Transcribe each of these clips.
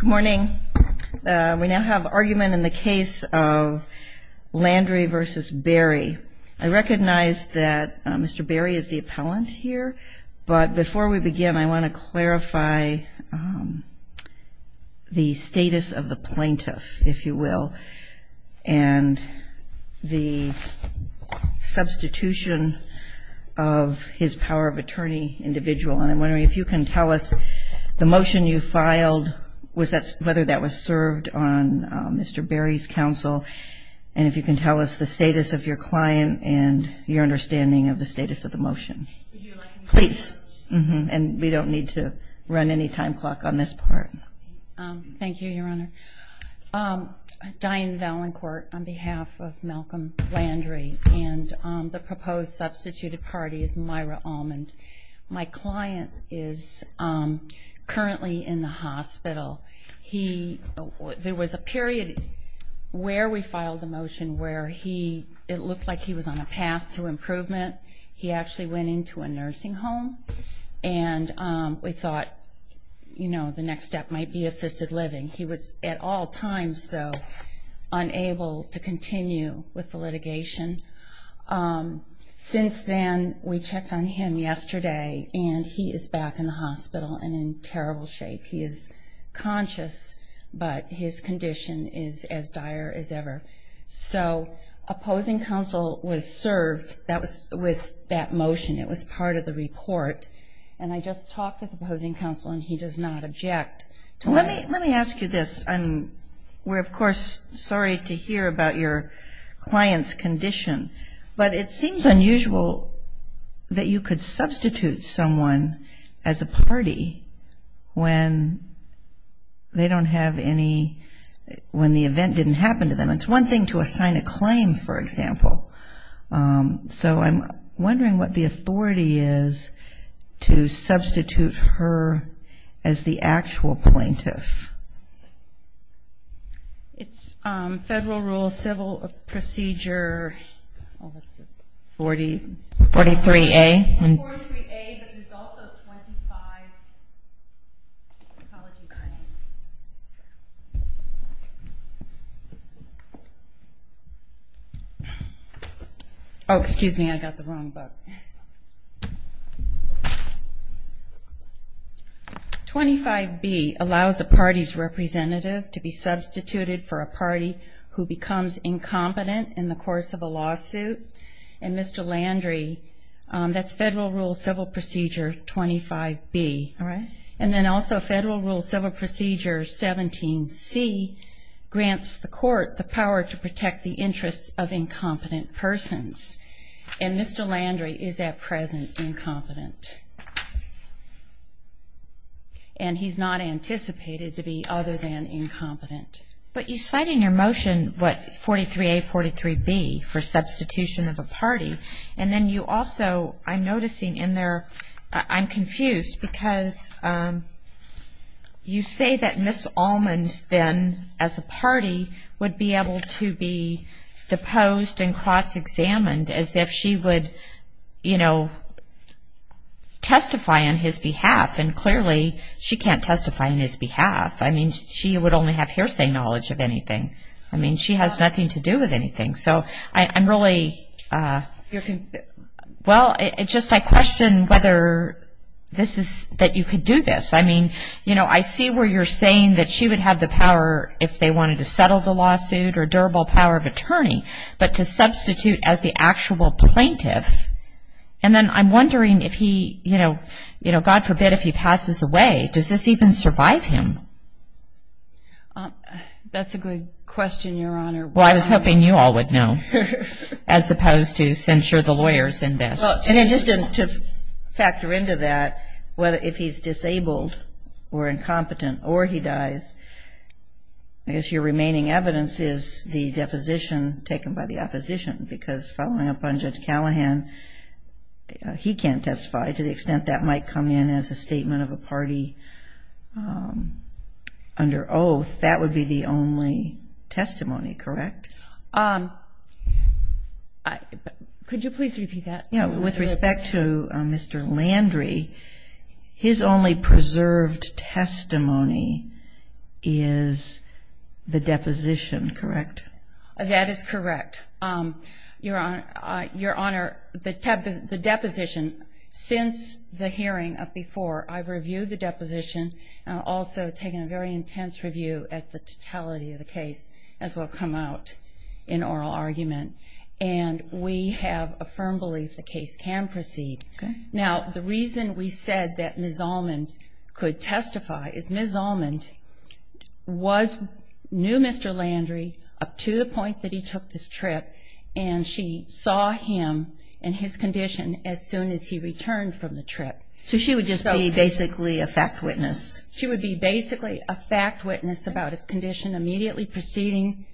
Good morning. We now have argument in the case of Landry v. Berry. I recognize that Mr. Berry is the appellant here, but before we begin, I want to clarify the status of the plaintiff, if you will, and the substitution of his power of attorney individual. And I'm wondering if you can tell us the motion you filed, whether that was served on Mr. Berry's counsel, and if you can tell us the status of your client and your understanding of the status of the motion. Please. And we don't need to run any time clock on this part. Thank you, Your Honor. Diane Valancourt on behalf of Malcolm Landry and the proposed substituted party is Myra Almond. My client is currently in the hospital. There was a period where we filed the motion where it looked like he was on a path to improvement. He actually went into a nursing home, and we thought, you know, the next step might be assisted living. He was at all times, though, unable to continue with the litigation. Since then, we checked on him yesterday, and he is back in the hospital and in terrible shape. He is conscious, but his condition is as dire as ever. So opposing counsel was served with that motion. It was part of the report. And I just talked with opposing counsel, and he does not object. Let me ask you this. We're, of course, sorry to hear about your client's condition, but it seems unusual that you could substitute someone as a party when they don't have any, when the event didn't happen to them. It's one thing to assign a claim, for example. So I'm wondering what the authority is to substitute her as the actual plaintiff. It's Federal Rule Civil Procedure 43A. Oh, excuse me. I got the wrong book. And Mr. Landry, that's Federal Rule Civil Procedure 25B. All right. And then also Federal Rule Civil Procedure 17C grants the court the power to protect the interests of incompetent persons. And Mr. Landry is at present incompetent. And he's not anticipated to be other than incompetent. But you cite in your motion what 43A, 43B, for substitution of a party. And then you also, I'm noticing in there, I'm confused because you say that Ms. Almond then, as a party, would be able to be deposed and cross-examined as if she would, you know, testify on his behalf. And clearly she can't testify on his behalf. I mean, she would only have hearsay knowledge of anything. I mean, she has nothing to do with anything. So I'm really, well, it's just I question whether this is, that you could do this. I mean, you know, I see where you're saying that she would have the power if they wanted to settle the lawsuit or durable power of attorney, but to substitute as the actual plaintiff. And then I'm wondering if he, you know, God forbid if he passes away, does this even survive him? That's a good question, Your Honor. Well, I was hoping you all would know as opposed to censure the lawyers in this. And just to factor into that, if he's disabled or incompetent or he dies, I guess your remaining evidence is the deposition taken by the opposition. Because following up on Judge Callahan, he can't testify to the extent that might come in as a statement of a party under oath. That would be the only testimony, correct? Could you please repeat that? Yeah. With respect to Mr. Landry, his only preserved testimony is the deposition, correct? That is correct. Your Honor, the deposition, since the hearing of before, I've reviewed the deposition and also taken a very intense review at the totality of the case as will come out in oral argument. And we have a firm belief the case can proceed. Okay. Now, the reason we said that Ms. Allman could testify is Ms. Allman knew Mr. Landry up to the point that he took this trip and she saw him and his condition as soon as he returned from the trip. So she would just be basically a fact witness? She would be basically a fact witness about his condition immediately preceding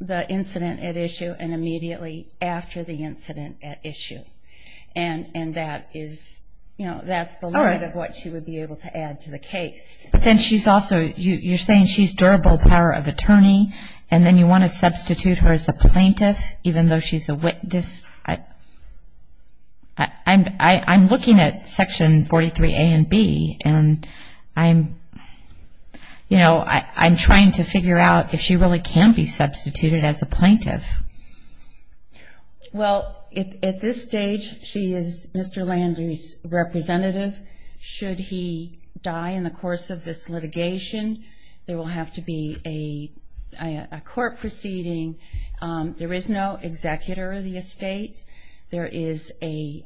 the incident at issue and immediately after the incident at issue. And that is the limit of what she would be able to add to the case. But then she's also, you're saying she's durable power of attorney and then you want to substitute her as a plaintiff even though she's a witness? I'm looking at Section 43A and B and I'm trying to figure out if she really can be substituted as a plaintiff. Well, at this stage, she is Mr. Landry's representative. Should he die in the course of this litigation, there will have to be a court proceeding. There is no executor of the estate. There is a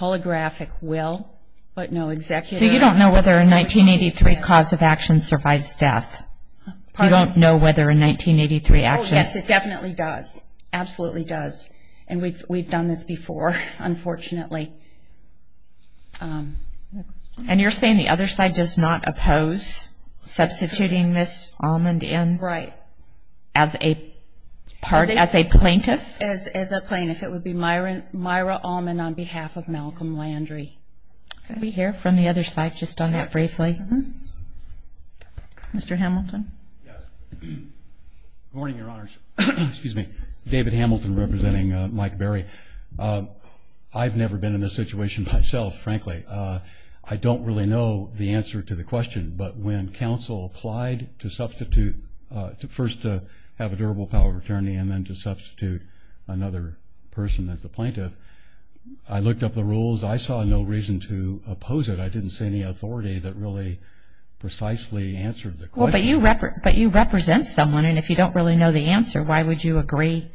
holographic will but no executor. So you don't know whether a 1983 cause of action survives death? Pardon? You don't know whether a 1983 action Yes, it definitely does. Absolutely does. And we've done this before, unfortunately. And you're saying the other side does not oppose substituting Ms. Almond in? Right. As a plaintiff? As a plaintiff. It would be Myra Almond on behalf of Malcolm Landry. Can we hear from the other side just on that briefly? Mr. Hamilton? Yes. Good morning, Your Honors. Excuse me. David Hamilton representing Mike Berry. I've never been in this situation myself, frankly. I don't really know the answer to the question. But when counsel applied to substitute, first to have a durable power of attorney and then to substitute another person as the plaintiff, I looked up the rules. I saw no reason to oppose it. I didn't see any authority that really precisely answered the question. But you represent someone. And if you don't really know the answer, why would you agree?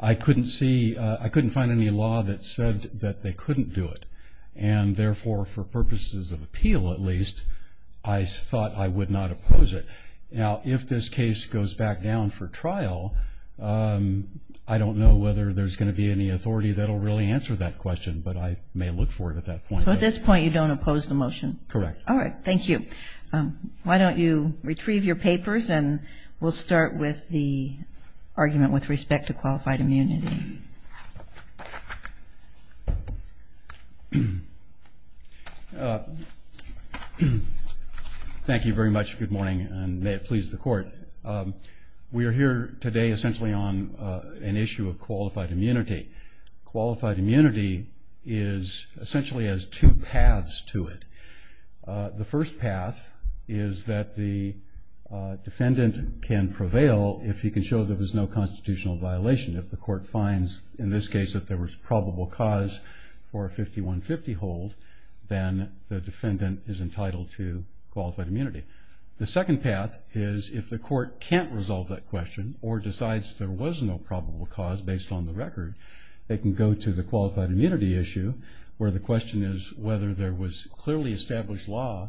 I couldn't find any law that said that they couldn't do it. And therefore, for purposes of appeal at least, I thought I would not oppose it. Now, if this case goes back down for trial, I don't know whether there's going to be any authority that will really answer that question. But I may look for it at that point. Correct. All right. Thank you. Why don't you retrieve your papers, and we'll start with the argument with respect to qualified immunity. Thank you very much. Good morning, and may it please the Court. We are here today essentially on an issue of qualified immunity. Qualified immunity essentially has two paths to it. The first path is that the defendant can prevail if he can show there was no constitutional violation. If the Court finds in this case that there was probable cause for a 5150 hold, then the defendant is entitled to qualified immunity. The second path is if the Court can't resolve that question or decides there was no probable cause based on the record, they can go to the qualified immunity issue, where the question is whether there was clearly established law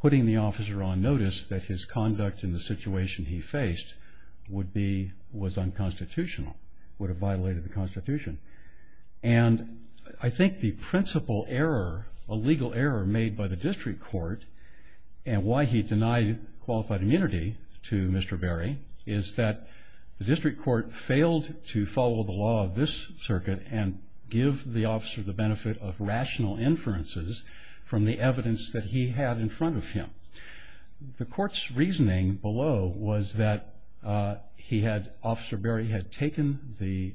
putting the officer on notice that his conduct in the situation he faced was unconstitutional, would have violated the Constitution. And I think the principal error, a legal error made by the district court, and why he denied qualified immunity to Mr. Berry, is that the district court failed to follow the law of this circuit and give the officer the benefit of rational inferences from the evidence that he had in front of him. The Court's reasoning below was that he had, Officer Berry had taken the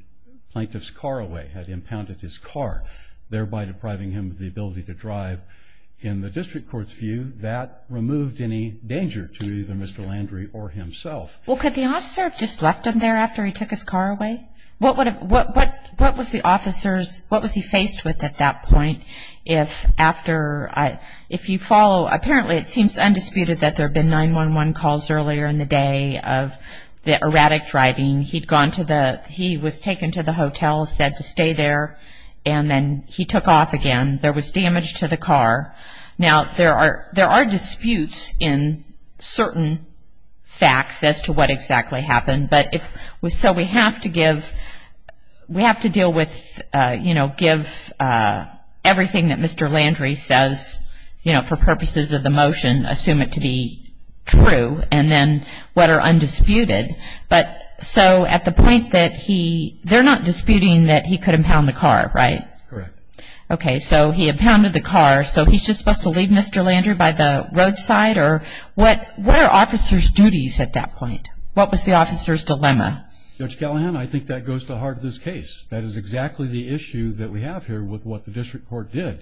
plaintiff's car away, had impounded his car, thereby depriving him of the ability to drive. In the district court's view, that removed any danger to either Mr. Landry or himself. Well, could the officer have just left him there after he took his car away? What was the officer's, what was he faced with at that point? If after, if you follow, apparently it seems undisputed that there have been 911 calls earlier in the day of the erratic driving. He'd gone to the, he was taken to the hotel, said to stay there, and then he took off again. There was damage to the car. Now, there are disputes in certain facts as to what exactly happened, but if, so we have to give, we have to deal with, you know, give everything that Mr. Landry says, you know, for purposes of the motion, assume it to be true, and then what are undisputed. But so at the point that he, they're not disputing that he could impound the car, right? Correct. Okay, so he impounded the car, so he's just supposed to leave Mr. Landry by the roadside? Or what are officers' duties at that point? What was the officer's dilemma? Judge Callahan, I think that goes to the heart of this case. That is exactly the issue that we have here with what the district court did.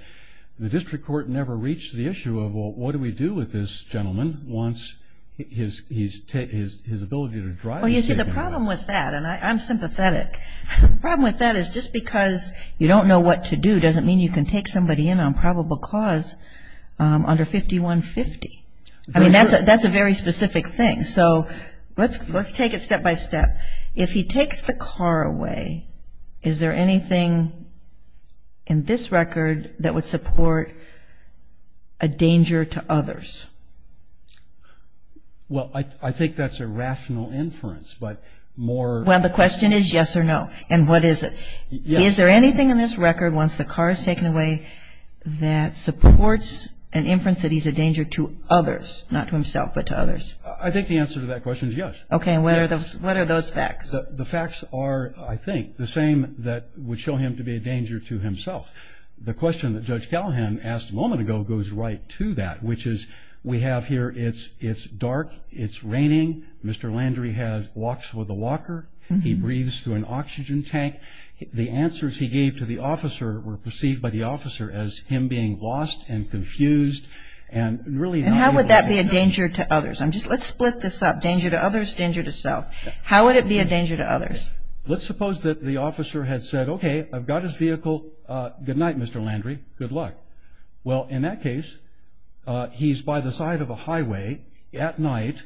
The district court never reached the issue of, well, what do we do with this gentleman once his ability to drive is taken away? Well, you see, the problem with that, and I'm sympathetic, the problem with that is just because you don't know what to do doesn't mean you can take somebody in on probable cause under 5150. I mean, that's a very specific thing. And so let's take it step by step. If he takes the car away, is there anything in this record that would support a danger to others? Well, I think that's a rational inference, but more of a question. Well, the question is yes or no, and what is it? Is there anything in this record, once the car is taken away, that supports an inference that he's a danger to others, not to himself but to others? I think the answer to that question is yes. Okay, and what are those facts? The facts are, I think, the same that would show him to be a danger to himself. The question that Judge Callahan asked a moment ago goes right to that, which is we have here it's dark, it's raining, Mr. Landry walks with a walker, he breathes through an oxygen tank. The answers he gave to the officer were perceived by the officer as him being lost and confused. And how would that be a danger to others? Let's split this up, danger to others, danger to self. How would it be a danger to others? Let's suppose that the officer had said, okay, I've got his vehicle, good night, Mr. Landry, good luck. Well, in that case, he's by the side of a highway at night,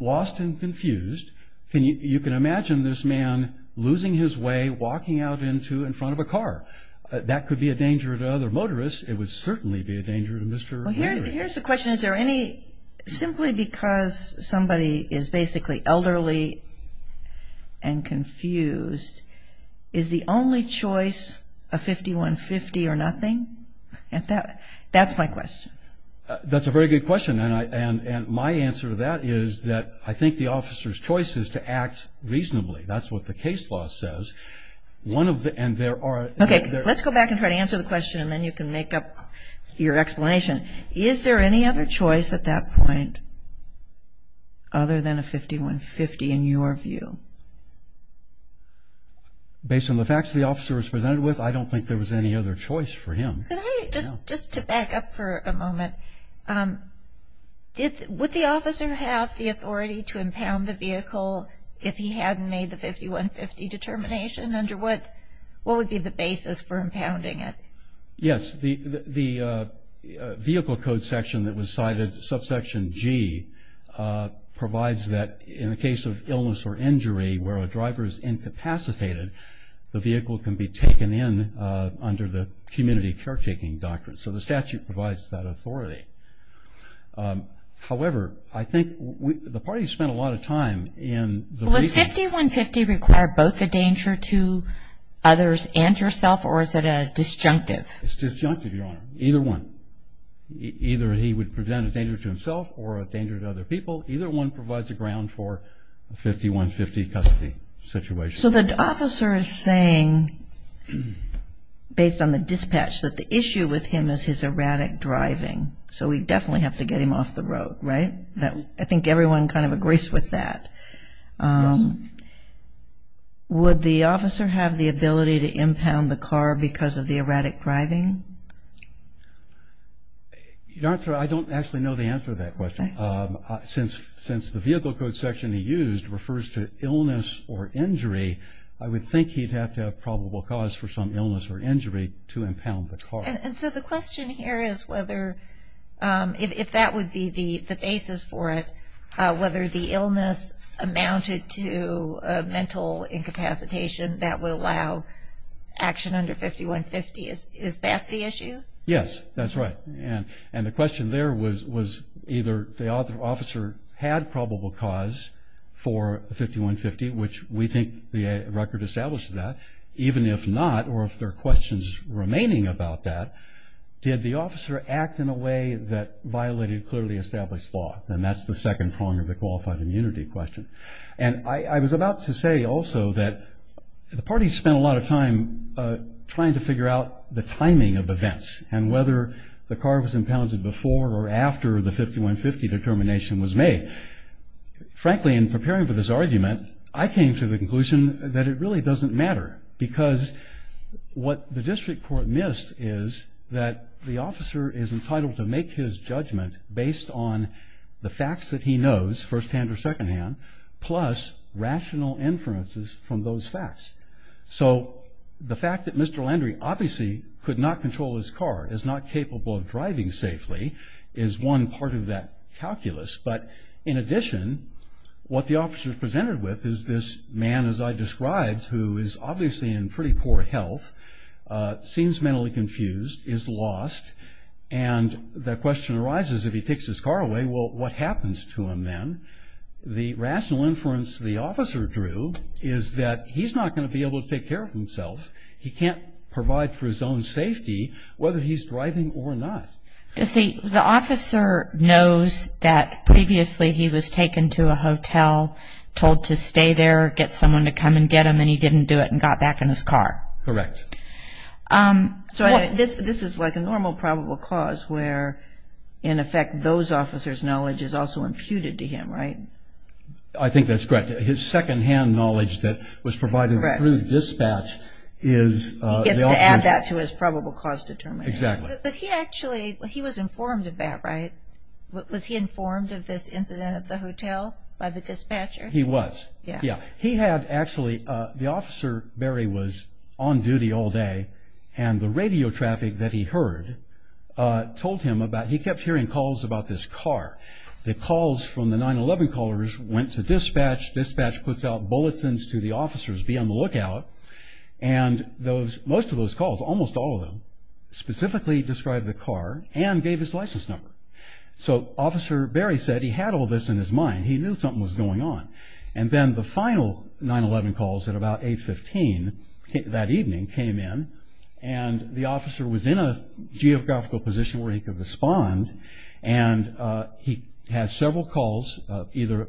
lost and confused. You can imagine this man losing his way, walking out in front of a car. That could be a danger to other motorists. It would certainly be a danger to Mr. Landry. Well, here's the question. Is there any, simply because somebody is basically elderly and confused, is the only choice a 5150 or nothing? That's my question. That's a very good question. And my answer to that is that I think the officer's choice is to act reasonably. That's what the case law says. Okay, let's go back and try to answer the question, and then you can make up your explanation. Is there any other choice at that point other than a 5150 in your view? Based on the facts the officer was presented with, I don't think there was any other choice for him. Just to back up for a moment, would the officer have the authority to impound the vehicle if he hadn't made the 5150 determination? Under what would be the basis for impounding it? Yes, the vehicle code section that was cited, subsection G, provides that in a case of illness or injury where a driver is incapacitated, the vehicle can be taken in under the community caretaking doctrine. So the statute provides that authority. However, I think the parties spent a lot of time in the vehicle. Well, does 5150 require both a danger to others and yourself, or is it a disjunctive? It's disjunctive, Your Honor, either one. Either he would present a danger to himself or a danger to other people. Either one provides a ground for a 5150 custody situation. So the officer is saying, based on the dispatch, that the issue with him is his erratic driving. So we definitely have to get him off the road, right? I think everyone kind of agrees with that. Would the officer have the ability to impound the car because of the erratic driving? Your Honor, I don't actually know the answer to that question. Since the vehicle code section he used refers to illness or injury, I would think he'd have to have probable cause for some illness or injury to impound the car. And so the question here is whether, if that would be the basis for it, whether the illness amounted to a mental incapacitation that would allow action under 5150. Is that the issue? Yes, that's right. And the question there was either the officer had probable cause for 5150, which we think the record establishes that, even if not, or if there are questions remaining about that, did the officer act in a way that violated clearly established law? And that's the second prong of the qualified immunity question. And I was about to say also that the parties spent a lot of time trying to figure out the timing of events and whether the car was impounded before or after the 5150 determination was made. Frankly, in preparing for this argument, I came to the conclusion that it really doesn't matter, because what the district court missed is that the officer is entitled to make his judgment based on the facts that he knows, firsthand or secondhand, plus rational inferences from those facts. So the fact that Mr. Landry obviously could not control his car, is not capable of driving safely, is one part of that calculus. But in addition, what the officer is presented with is this man, as I described, who is obviously in pretty poor health, seems mentally confused, is lost. And the question arises, if he takes his car away, well, what happens to him then? The rational inference the officer drew is that he's not going to be able to take care of himself. He can't provide for his own safety, whether he's driving or not. The officer knows that previously he was taken to a hotel, told to stay there, get someone to come and get him, and he didn't do it and got back in his car. Correct. So this is like a normal probable cause where, in effect, those officers' knowledge is also imputed to him, right? I think that's correct. His secondhand knowledge that was provided through dispatch is the ultimate. He gets to add that to his probable cause determination. Exactly. But he actually, he was informed of that, right? Was he informed of this incident at the hotel by the dispatcher? He was. Yeah. He had actually, the officer, Barry, was on duty all day, and the radio traffic that he heard told him about, he kept hearing calls about this car. The calls from the 9-11 callers went to dispatch. Dispatch puts out bulletins to the officers, be on the lookout. And most of those calls, almost all of them, specifically described the car and gave his license number. So Officer Barry said he had all this in his mind. He knew something was going on. And then the final 9-11 calls at about 8-15 that evening came in, and the officer was in a geographical position where he could respond, and he had several calls, either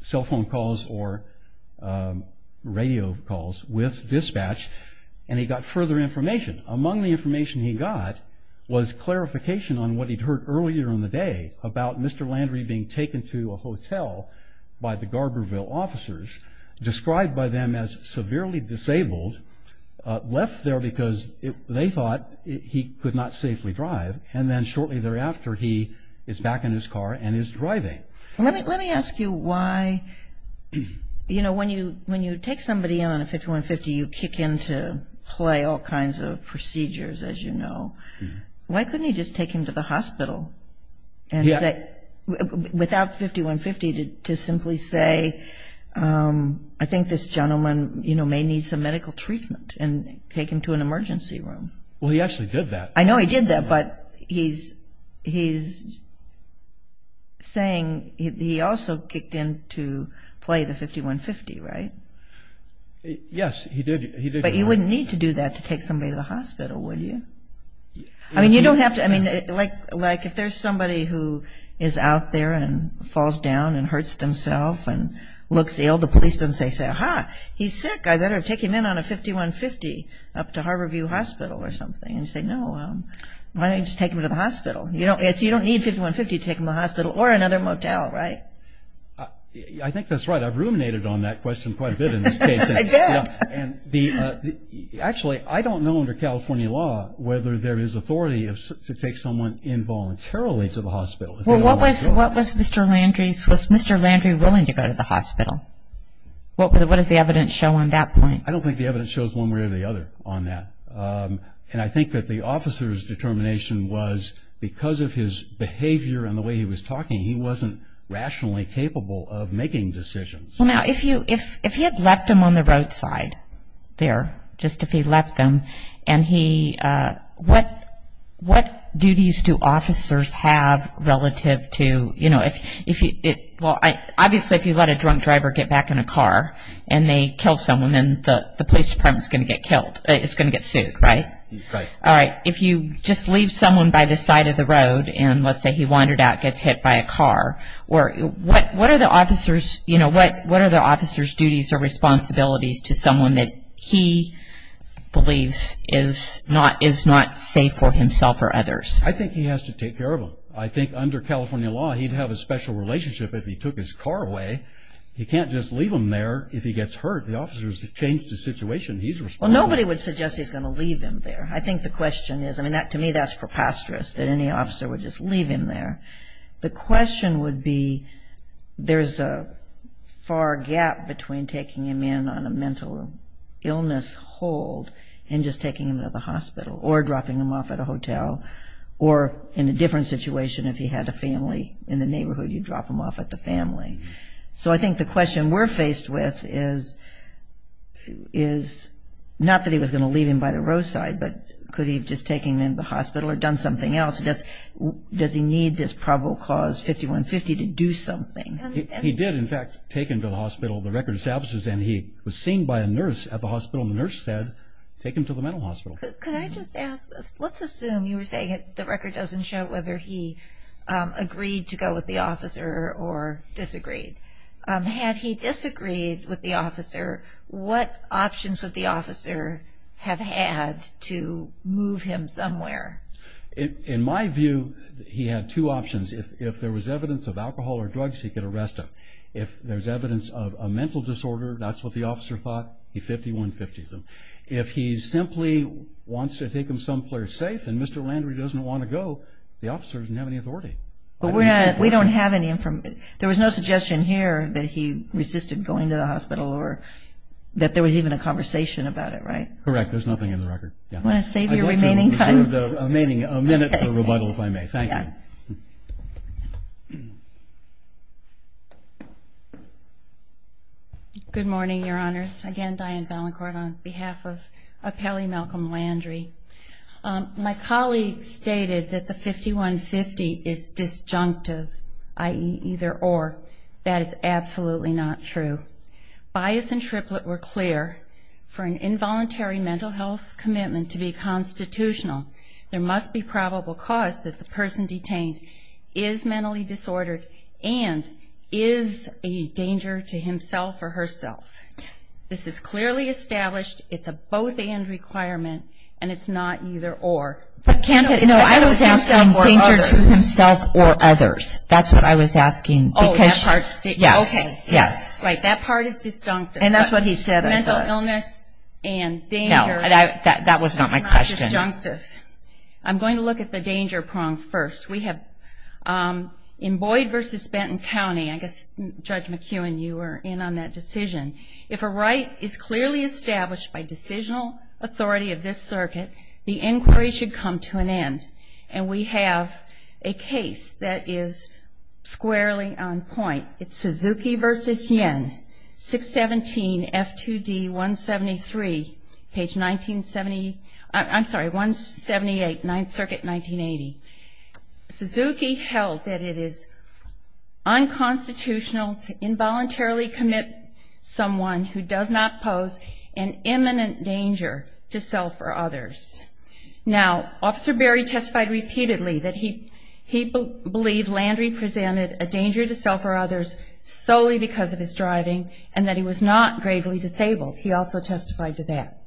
cell phone calls or radio calls with dispatch, and he got further information. Among the information he got was clarification on what he'd heard earlier in the day about Mr. Landry being taken to a hotel by the Garberville officers, described by them as severely disabled, left there because they thought he could not safely drive, and then shortly thereafter he is back in his car and is driving. Let me ask you why, you know, when you take somebody in on a 5150, you kick in to play all kinds of procedures, as you know. Why couldn't you just take him to the hospital and say, without 5150, to simply say, I think this gentleman, you know, may need some medical treatment and take him to an emergency room? Well, he actually did that. I know he did that, but he's saying he also kicked in to play the 5150, right? Yes, he did. But you wouldn't need to do that to take somebody to the hospital, would you? I mean, you don't have to. I mean, like if there's somebody who is out there and falls down and hurts themself and looks ill, the police don't say, say, aha, he's sick, I better take him in on a 5150 up to Harborview Hospital or something, and you say, no, why don't you just take him to the hospital? You don't need 5150 to take him to the hospital or another motel, right? I think that's right. I've ruminated on that question quite a bit in this case. Actually, I don't know under California law whether there is authority to take someone involuntarily to the hospital. Well, what was Mr. Landry's, was Mr. Landry willing to go to the hospital? What does the evidence show on that point? I don't think the evidence shows one way or the other on that. And I think that the officer's determination was because of his behavior and the way he was talking, he wasn't rationally capable of making decisions. Well, now, if he had left them on the roadside there, just if he left them, what duties do officers have relative to, you know, if you, well, obviously if you let a drunk driver get back in a car and they kill someone, then the police department is going to get killed, is going to get sued, right? Right. All right. If you just leave someone by the side of the road and, let's say, he wandered out, gets hit by a car, what are the officer's duties or responsibilities to someone that he believes is not safe for himself or others? I think he has to take care of them. I think under California law, he'd have a special relationship if he took his car away. He can't just leave them there if he gets hurt. The officers have changed the situation. He's responsible. Well, nobody would suggest he's going to leave them there. I think the question is, I mean, to me that's preposterous that any officer would just leave him there. The question would be there's a far gap between taking him in on a mental illness hold and just taking him to the hospital or dropping him off at a hotel, or in a different situation, if he had a family in the neighborhood, you'd drop him off at the family. So I think the question we're faced with is not that he was going to leave him by the roadside, but could he have just taken him into the hospital or done something else? Does he need this probable cause 5150 to do something? He did, in fact, take him to the hospital, the records officers, and he was seen by a nurse at the hospital, and the nurse said, take him to the mental hospital. Could I just ask, let's assume you were saying the record doesn't show whether he agreed to go with the officer or disagreed. Had he disagreed with the officer, what options would the officer have had to move him somewhere? In my view, he had two options. If there was evidence of alcohol or drugs, he could arrest him. If there's evidence of a mental disorder, that's what the officer thought, he 5150'd him. If he simply wants to take him someplace safe and Mr. Landry doesn't want to go, the officer doesn't have any authority. We don't have any information. There was no suggestion here that he resisted going to the hospital or that there was even a conversation about it, right? Correct. There's nothing in the record. I want to save your remaining time. I'd like to reserve a minute for rebuttal, if I may. Thank you. Good morning, Your Honors. Again, Diane Ballencourt on behalf of Appellee Malcolm Landry. My colleague stated that the 5150 is disjunctive, i.e. either or. That is absolutely not true. Bias and triplet were clear. For an involuntary mental health commitment to be constitutional, there must be probable cause that the person detained is mentally disordered and is a danger to himself or herself. This is clearly established. It's a both and requirement, and it's not either or. No, I was asking danger to himself or others. That's what I was asking. Oh, that part sticks. Yes. Right, that part is disjunctive. And that's what he said. Mental illness and danger. No, that was not my question. Disjunctive. I'm going to look at the danger prong first. We have in Boyd v. Benton County, I guess, Judge McEwen, you were in on that decision. If a right is clearly established by decisional authority of this circuit, the inquiry should come to an end. And we have a case that is squarely on point. It's Suzuki v. Yen, 617 F2D 173, page 1970. I'm sorry, 178, Ninth Circuit, 1980. Suzuki held that it is unconstitutional to involuntarily commit someone who does not pose an imminent danger to self or others. Now, Officer Berry testified repeatedly that he believed Landry presented a danger to self or others solely because of his driving and that he was not gravely disabled. He also testified to that.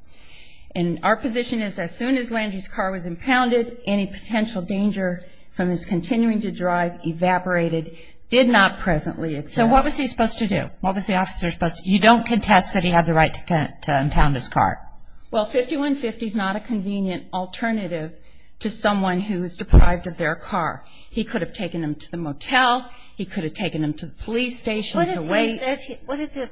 And our position is as soon as Landry's car was impounded, any potential danger from his continuing to drive evaporated, did not presently exist. So what was he supposed to do? What was the officer supposed to do? You don't contest that he had the right to impound his car. Well, 5150 is not a convenient alternative to someone who is deprived of their car. He could have taken them to the motel. He could have taken them to the police station to wait. What if he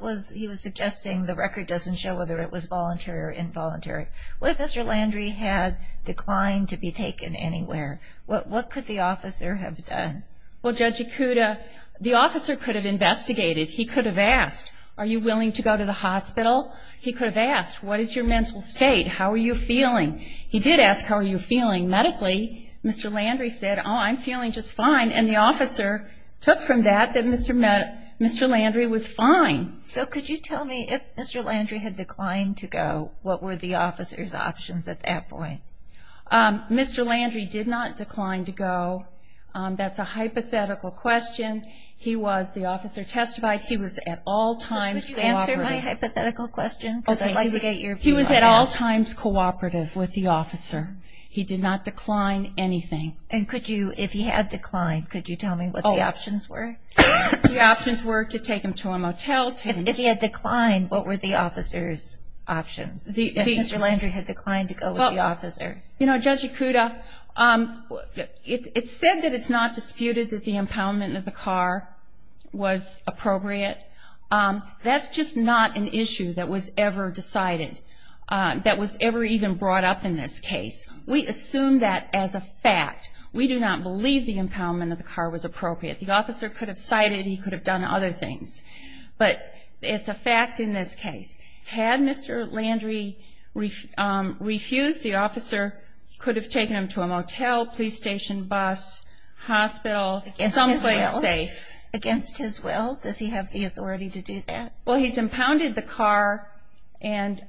was suggesting the record doesn't show whether it was voluntary or involuntary? What if Mr. Landry had declined to be taken anywhere? What could the officer have done? Well, Judge Ikuda, the officer could have investigated. He could have asked, are you willing to go to the hospital? He could have asked, what is your mental state? How are you feeling? He did ask, how are you feeling medically? Mr. Landry said, oh, I'm feeling just fine. And the officer took from that that Mr. Landry was fine. So could you tell me if Mr. Landry had declined to go, what were the officer's options at that point? Mr. Landry did not decline to go. That's a hypothetical question. He was, the officer testified, he was at all times cooperative. Is that my hypothetical question? He was at all times cooperative with the officer. He did not decline anything. And could you, if he had declined, could you tell me what the options were? The options were to take him to a motel. If he had declined, what were the officer's options? If Mr. Landry had declined to go with the officer? You know, Judge Ikuda, it's said that it's not disputed that the impoundment of the car was appropriate. That's just not an issue that was ever decided, that was ever even brought up in this case. We assume that as a fact. We do not believe the impoundment of the car was appropriate. The officer could have cited he could have done other things. But it's a fact in this case. Had Mr. Landry refused, the officer could have taken him to a motel, police station, bus, hospital, someplace safe. Against his will? Does he have the authority to do that? Well, he's impounded the car and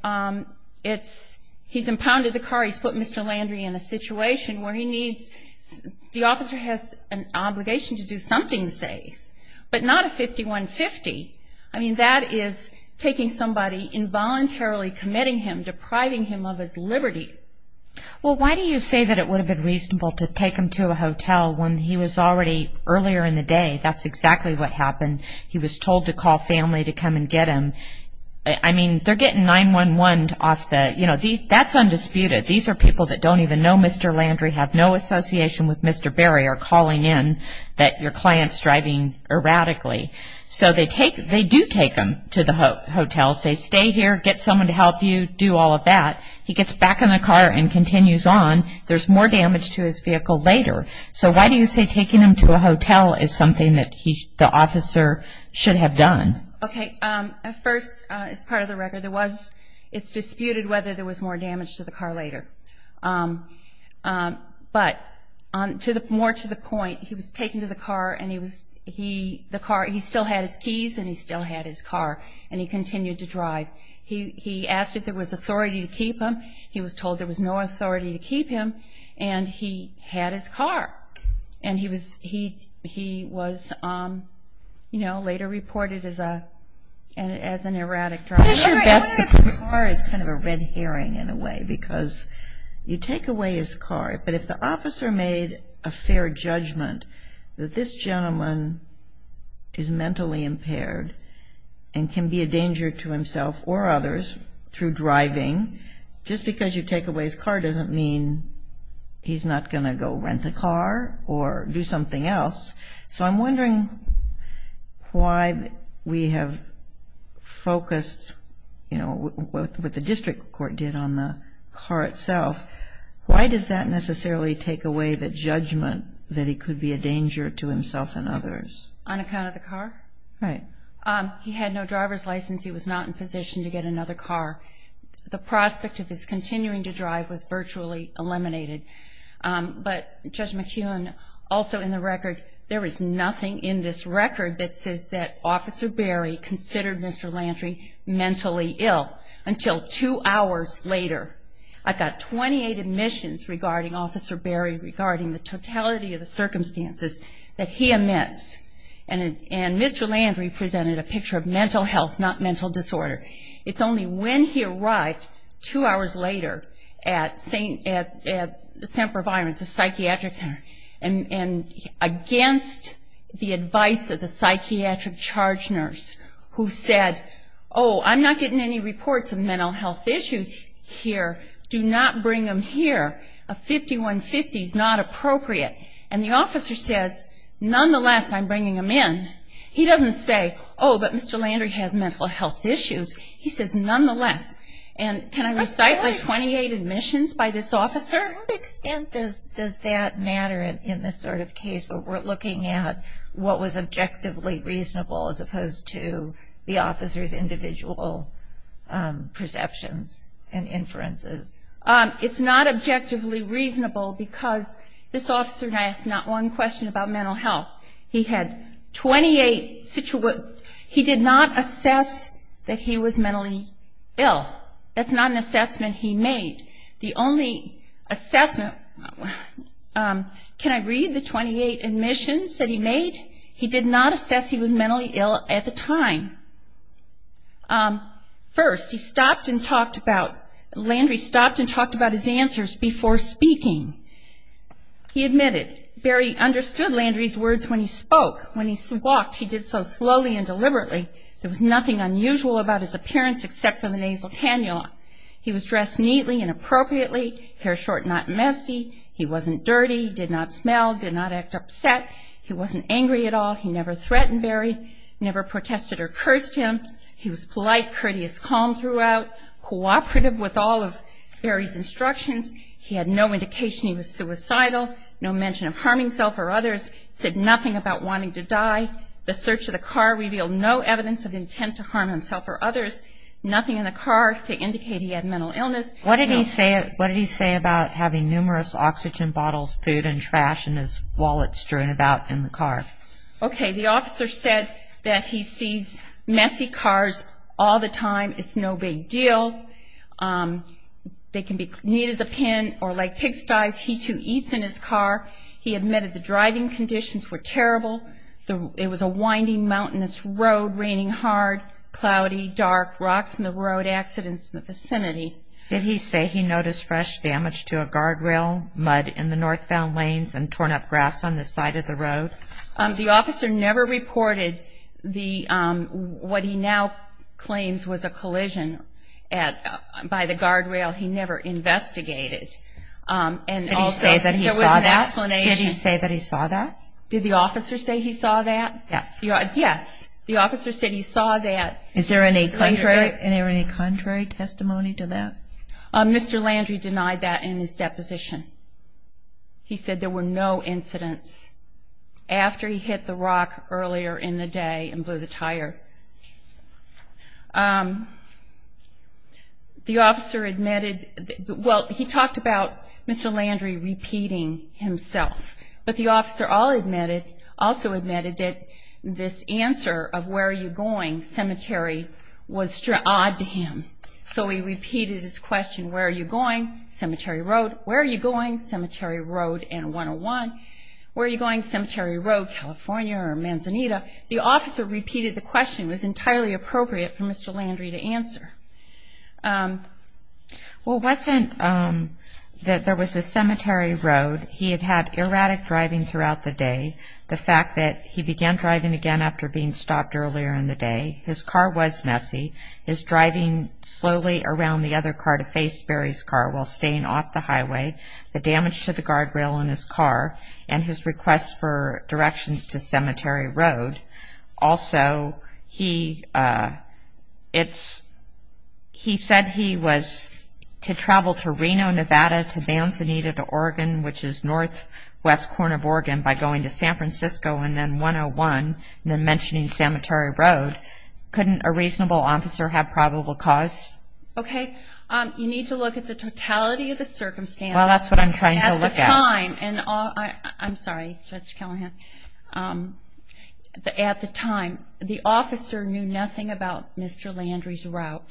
it's he's impounded the car. He's put Mr. Landry in a situation where he needs the officer has an obligation to do something safe. But not a 51-50. I mean, that is taking somebody, involuntarily committing him, depriving him of his liberty. Well, why do you say that it would have been reasonable to take him to a hotel when he was already earlier in the day? That's exactly what happened. He was told to call family to come and get him. I mean, they're getting 911ed off the, you know, that's undisputed. These are people that don't even know Mr. Landry, have no association with Mr. Berry, are calling in that your client's driving erratically. So they do take him to the hotel, say, stay here, get someone to help you, do all of that. He gets back in the car and continues on. There's more damage to his vehicle later. So why do you say taking him to a hotel is something that the officer should have done? Okay. First, as part of the record, it's disputed whether there was more damage to the car later. But more to the point, he was taken to the car, and he still had his keys and he still had his car, and he continued to drive. He asked if there was authority to keep him. He was told there was no authority to keep him, and he had his car. And he was, you know, later reported as an erratic driver. His car is kind of a red herring in a way because you take away his car. But if the officer made a fair judgment that this gentleman is mentally impaired and can be a danger to himself or others through driving, just because you take away his car doesn't mean he's not going to go rent the car or do something else. So I'm wondering why we have focused, you know, what the district court did on the car itself. Why does that necessarily take away the judgment that he could be a danger to himself and others? On account of the car? Right. He had no driver's license. He was not in position to get another car. The prospect of his continuing to drive was virtually eliminated. But Judge McKeown, also in the record, there is nothing in this record that says that Officer Berry considered Mr. Lantry mentally ill until two hours later. I've got 28 admissions regarding Officer Berry regarding the totality of the circumstances that he admits. And Mr. Lantry presented a picture of mental health, not mental disorder. It's only when he arrived two hours later at St. Providence, a psychiatric center, and against the advice of the psychiatric charge nurse who said, oh, I'm not getting any reports of mental health issues here. Do not bring them here. A 5150 is not appropriate. And the officer says, nonetheless, I'm bringing them in. He doesn't say, oh, but Mr. Lantry has mental health issues. He says, nonetheless. And can I recite my 28 admissions by this officer? To what extent does that matter in this sort of case where we're looking at what was objectively reasonable as opposed to the officer's individual perceptions and inferences? It's not objectively reasonable because this officer and I asked not one question about mental health. He had 28 situations. He did not assess that he was mentally ill. That's not an assessment he made. The only assessment, can I read the 28 admissions that he made? He did not assess he was mentally ill at the time. First, he stopped and talked about, Lantry stopped and talked about his answers before speaking. He admitted, Barry understood Lantry's words when he spoke. When he walked, he did so slowly and deliberately. There was nothing unusual about his appearance except for the nasal cannula. He was dressed neatly and appropriately, hair short and not messy. He wasn't dirty, did not smell, did not act upset. He wasn't angry at all. He never threatened Barry, never protested or cursed him. He was polite, courteous, calm throughout, cooperative with all of Barry's instructions. He had no indication he was suicidal, no mention of harming himself or others, said nothing about wanting to die. The search of the car revealed no evidence of intent to harm himself or others, nothing in the car to indicate he had mental illness. What did he say about having numerous oxygen bottles, food and trash in his wallet strewn about in the car? Okay, the officer said that he sees messy cars all the time. It's no big deal. They can be neat as a pin or like pigsty's. He too eats in his car. He admitted the driving conditions were terrible. It was a winding, mountainous road, raining hard, cloudy, dark, rocks in the road, accidents in the vicinity. Did he say he noticed fresh damage to a guardrail, mud in the northbound lanes and torn up grass on the side of the road? The officer never reported what he now claims was a collision by the guardrail. He never investigated. Did he say that he saw that? Did he say that he saw that? Did the officer say he saw that? Yes. Yes, the officer said he saw that. Is there any contrary testimony to that? Mr. Landry denied that in his deposition. He said there were no incidents after he hit the rock earlier in the day and blew the tire. The officer admitted, well, he talked about Mr. Landry repeating himself, but the officer also admitted that this answer of where are you going cemetery was odd to him. So he repeated his question, where are you going? Cemetery Road. Where are you going? Cemetery Road and 101. Where are you going? Cemetery Road, California or Manzanita. The officer repeated the question. It was entirely appropriate for Mr. Landry to answer. Well, it wasn't that there was a cemetery road. He had had erratic driving throughout the day, the fact that he began driving again after being stopped earlier in the day. His car was messy. His driving slowly around the other car to face Barry's car while staying off the highway, the damage to the guardrail on his car, and his request for directions to Cemetery Road. Also, he said he was to travel to Reno, Nevada, to Manzanita, to Oregon, which is northwest corner of Oregon by going to San Francisco and then 101, and then mentioning Cemetery Road. Couldn't a reasonable officer have probable cause? Okay. You need to look at the totality of the circumstances. Well, that's what I'm trying to look at. At the time, and I'm sorry, Judge Callahan. At the time, the officer knew nothing about Mr. Landry's route.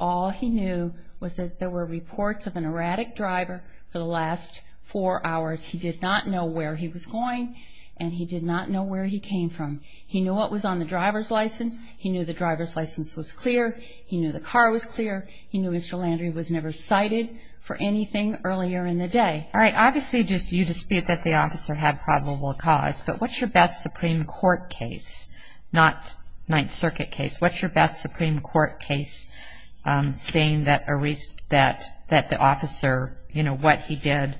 All he knew was that there were reports of an erratic driver for the last four hours. He did not know where he was going, and he did not know where he came from. He knew what was on the driver's license. He knew the driver's license was clear. He knew the car was clear. He knew Mr. Landry was never cited for anything earlier in the day. All right. Obviously, just you dispute that the officer had probable cause, but what's your best Supreme Court case, not Ninth Circuit case? What's your best Supreme Court case saying that the officer, you know, what he did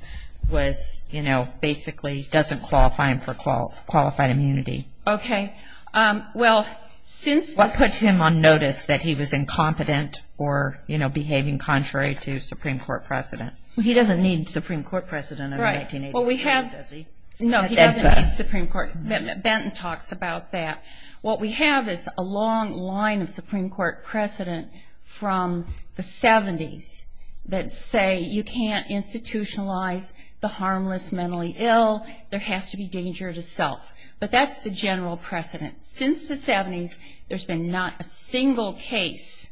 was, you know, basically doesn't qualify him for qualified immunity? Okay. Well, since this is… What puts him on notice that he was incompetent or, you know, behaving contrary to Supreme Court precedent? He doesn't need Supreme Court precedent under 1987, does he? No, he doesn't need Supreme Court. Benton talks about that. What we have is a long line of Supreme Court precedent from the 70s that say you can't institutionalize the harmless mentally ill, there has to be danger to self. But that's the general precedent. Since the 70s, there's been not a single case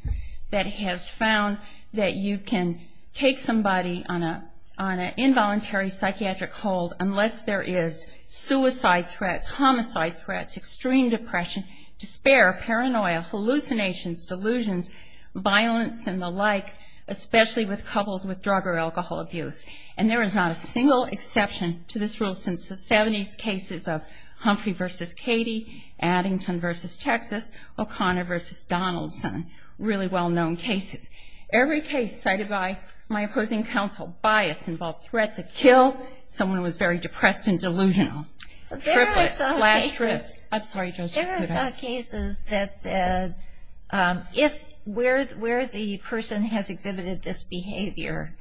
that has found that you can take somebody on an involuntary psychiatric hold unless there is suicide threats, homicide threats, extreme depression, despair, paranoia, hallucinations, delusions, violence and the like, especially coupled with drug or alcohol abuse. And there is not a single exception to this rule since the 70s cases of Humphrey v. Katie, Addington v. Texas, O'Connor v. Donaldson, really well-known cases. Every case cited by my opposing counsel, bias involved threat to kill, someone who was very depressed and delusional. There are some cases that said if where the person has exhibited this behavior,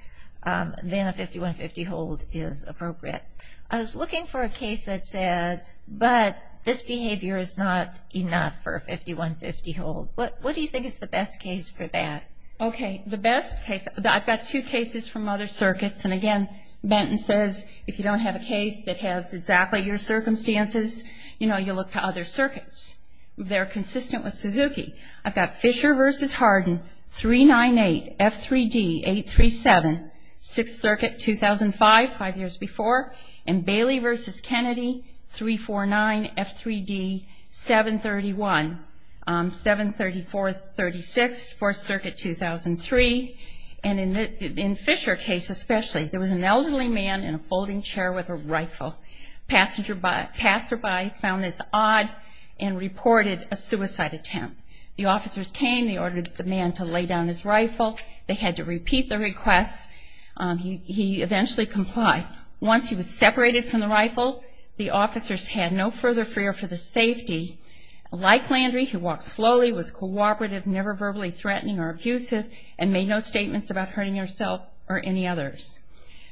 then a 5150 hold is appropriate. I was looking for a case that said, but this behavior is not enough for a 5150 hold. What do you think is the best case for that? Okay, the best case, I've got two cases from other circuits. And, again, Benton says if you don't have a case that has exactly your circumstances, you know, you look to other circuits. They're consistent with Suzuki. I've got Fisher v. Hardin, 398F3D837, 6th Circuit, 2005, five years before, and Bailey v. Kennedy, 349F3D731, 73436, 4th Circuit, 2003. And in Fisher's case especially, there was an elderly man in a folding chair with a rifle. Passersby found this odd and reported a suicide attempt. The officers came. They ordered the man to lay down his rifle. They had to repeat the request. He eventually complied. Once he was separated from the rifle, the officers had no further fear for the safety. Like Landry, he walked slowly, was cooperative, never verbally threatening or abusive, and made no statements about hurting herself or any others.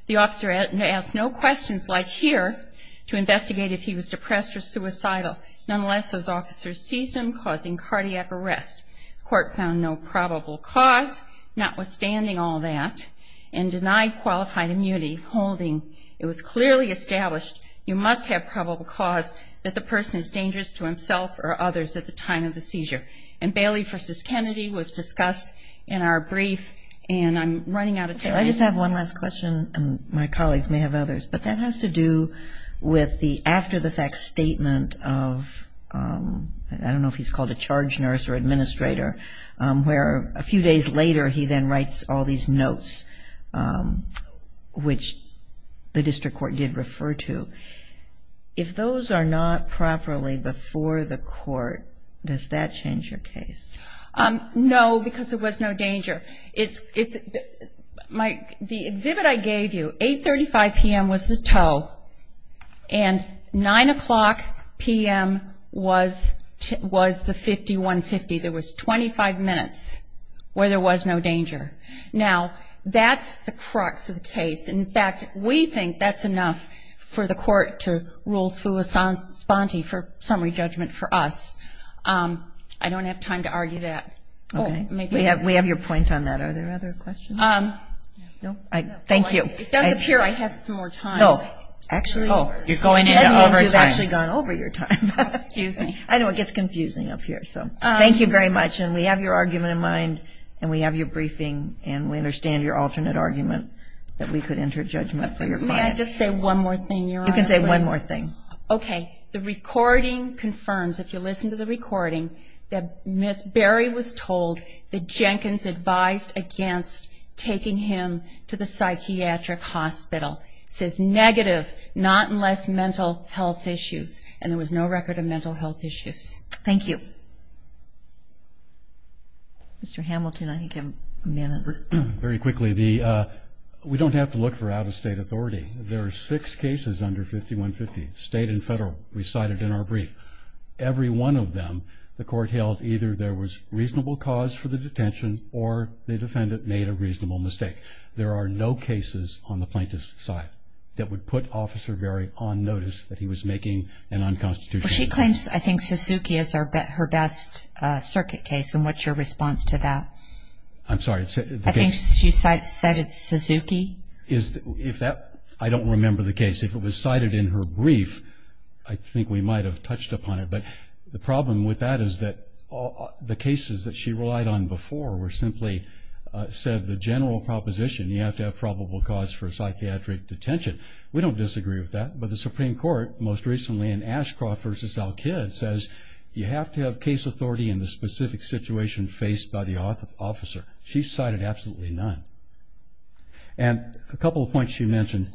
The officer asked no questions, like here, to investigate if he was depressed or suicidal. Nonetheless, those officers seized him, causing cardiac arrest. The court found no probable cause, notwithstanding all that, and denied qualified immunity, holding. It was clearly established you must have probable cause that the person is dangerous to himself or others at the time of the seizure. And Bailey v. Kennedy was discussed in our brief, and I'm running out of time. I just have one last question, and my colleagues may have others, but that has to do with the after-the-fact statement of, I don't know if he's called a charge nurse or administrator, where a few days later he then writes all these notes, which the district court did refer to. If those are not properly before the court, does that change your case? No, because there was no danger. The exhibit I gave you, 8.35 p.m. was the tow, and 9 o'clock p.m. was the 5150. There was 25 minutes where there was no danger. Now, that's the crux of the case. In fact, we think that's enough for the court to rule full esponte for summary judgment for us. I don't have time to argue that. Okay. We have your point on that. Are there other questions? No? Thank you. It does appear I have some more time. No. Actually, that means you've actually gone over your time. Excuse me. I know it gets confusing up here. So thank you very much, and we have your argument in mind, and we have your briefing, and we understand your alternate argument that we could enter judgment for your client. May I just say one more thing, Your Honor, please? You can say one more thing. Okay. The recording confirms, if you listen to the recording, that Ms. Berry was told that Jenkins advised against taking him to the psychiatric hospital. It says negative, not unless mental health issues, and there was no record of mental health issues. Thank you. Mr. Hamilton, I think you have a minute. Very quickly, we don't have to look for out-of-state authority. There are six cases under 5150, state and federal, recited in our brief. Every one of them the court held either there was reasonable cause for the detention or the defendant made a reasonable mistake. There are no cases on the plaintiff's side that would put Officer Berry on notice that he was making an unconstitutional decision. She claims, I think, Suzuki is her best circuit case, and what's your response to that? I'm sorry. I think she cited Suzuki. I don't remember the case. If it was cited in her brief, I think we might have touched upon it. But the problem with that is that the cases that she relied on before were simply said the general proposition, you have to have probable cause for psychiatric detention. We don't disagree with that. But the Supreme Court, most recently in Ashcroft v. Al-Kidd, says you have to have case authority in the specific situation faced by the officer. She cited absolutely none. And a couple of points she mentioned,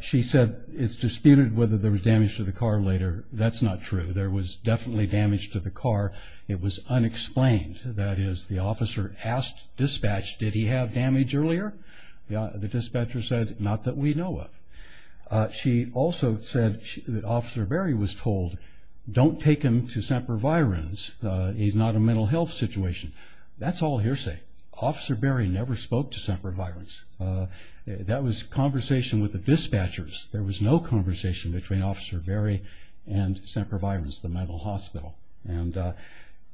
she said it's disputed whether there was damage to the car later. That's not true. There was definitely damage to the car. It was unexplained. That is, the officer asked dispatch, did he have damage earlier? The dispatcher said, not that we know of. She also said that Officer Berry was told, don't take him to St. Providence. He's not a mental health situation. That's all hearsay. Officer Berry never spoke to St. Providence. That was conversation with the dispatchers. There was no conversation between Officer Berry and St. Providence, the mental hospital. And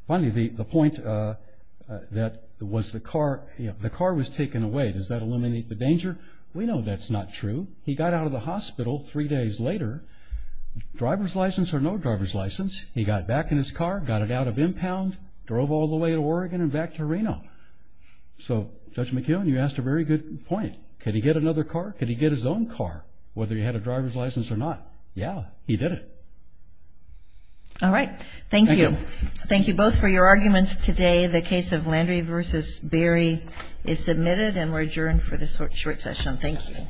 finally, the point that was the car, the car was taken away, does that eliminate the danger? We know that's not true. He got out of the hospital three days later, driver's license or no driver's license. He got back in his car, got it out of impound, drove all the way to Oregon and back to Reno. So, Judge McKeown, you asked a very good point. Could he get another car? Could he get his own car, whether he had a driver's license or not? Yeah, he did it. All right. Thank you. Thank you both for your arguments today. The case of Landry v. Berry is submitted and we're adjourned for this short session. Thank you.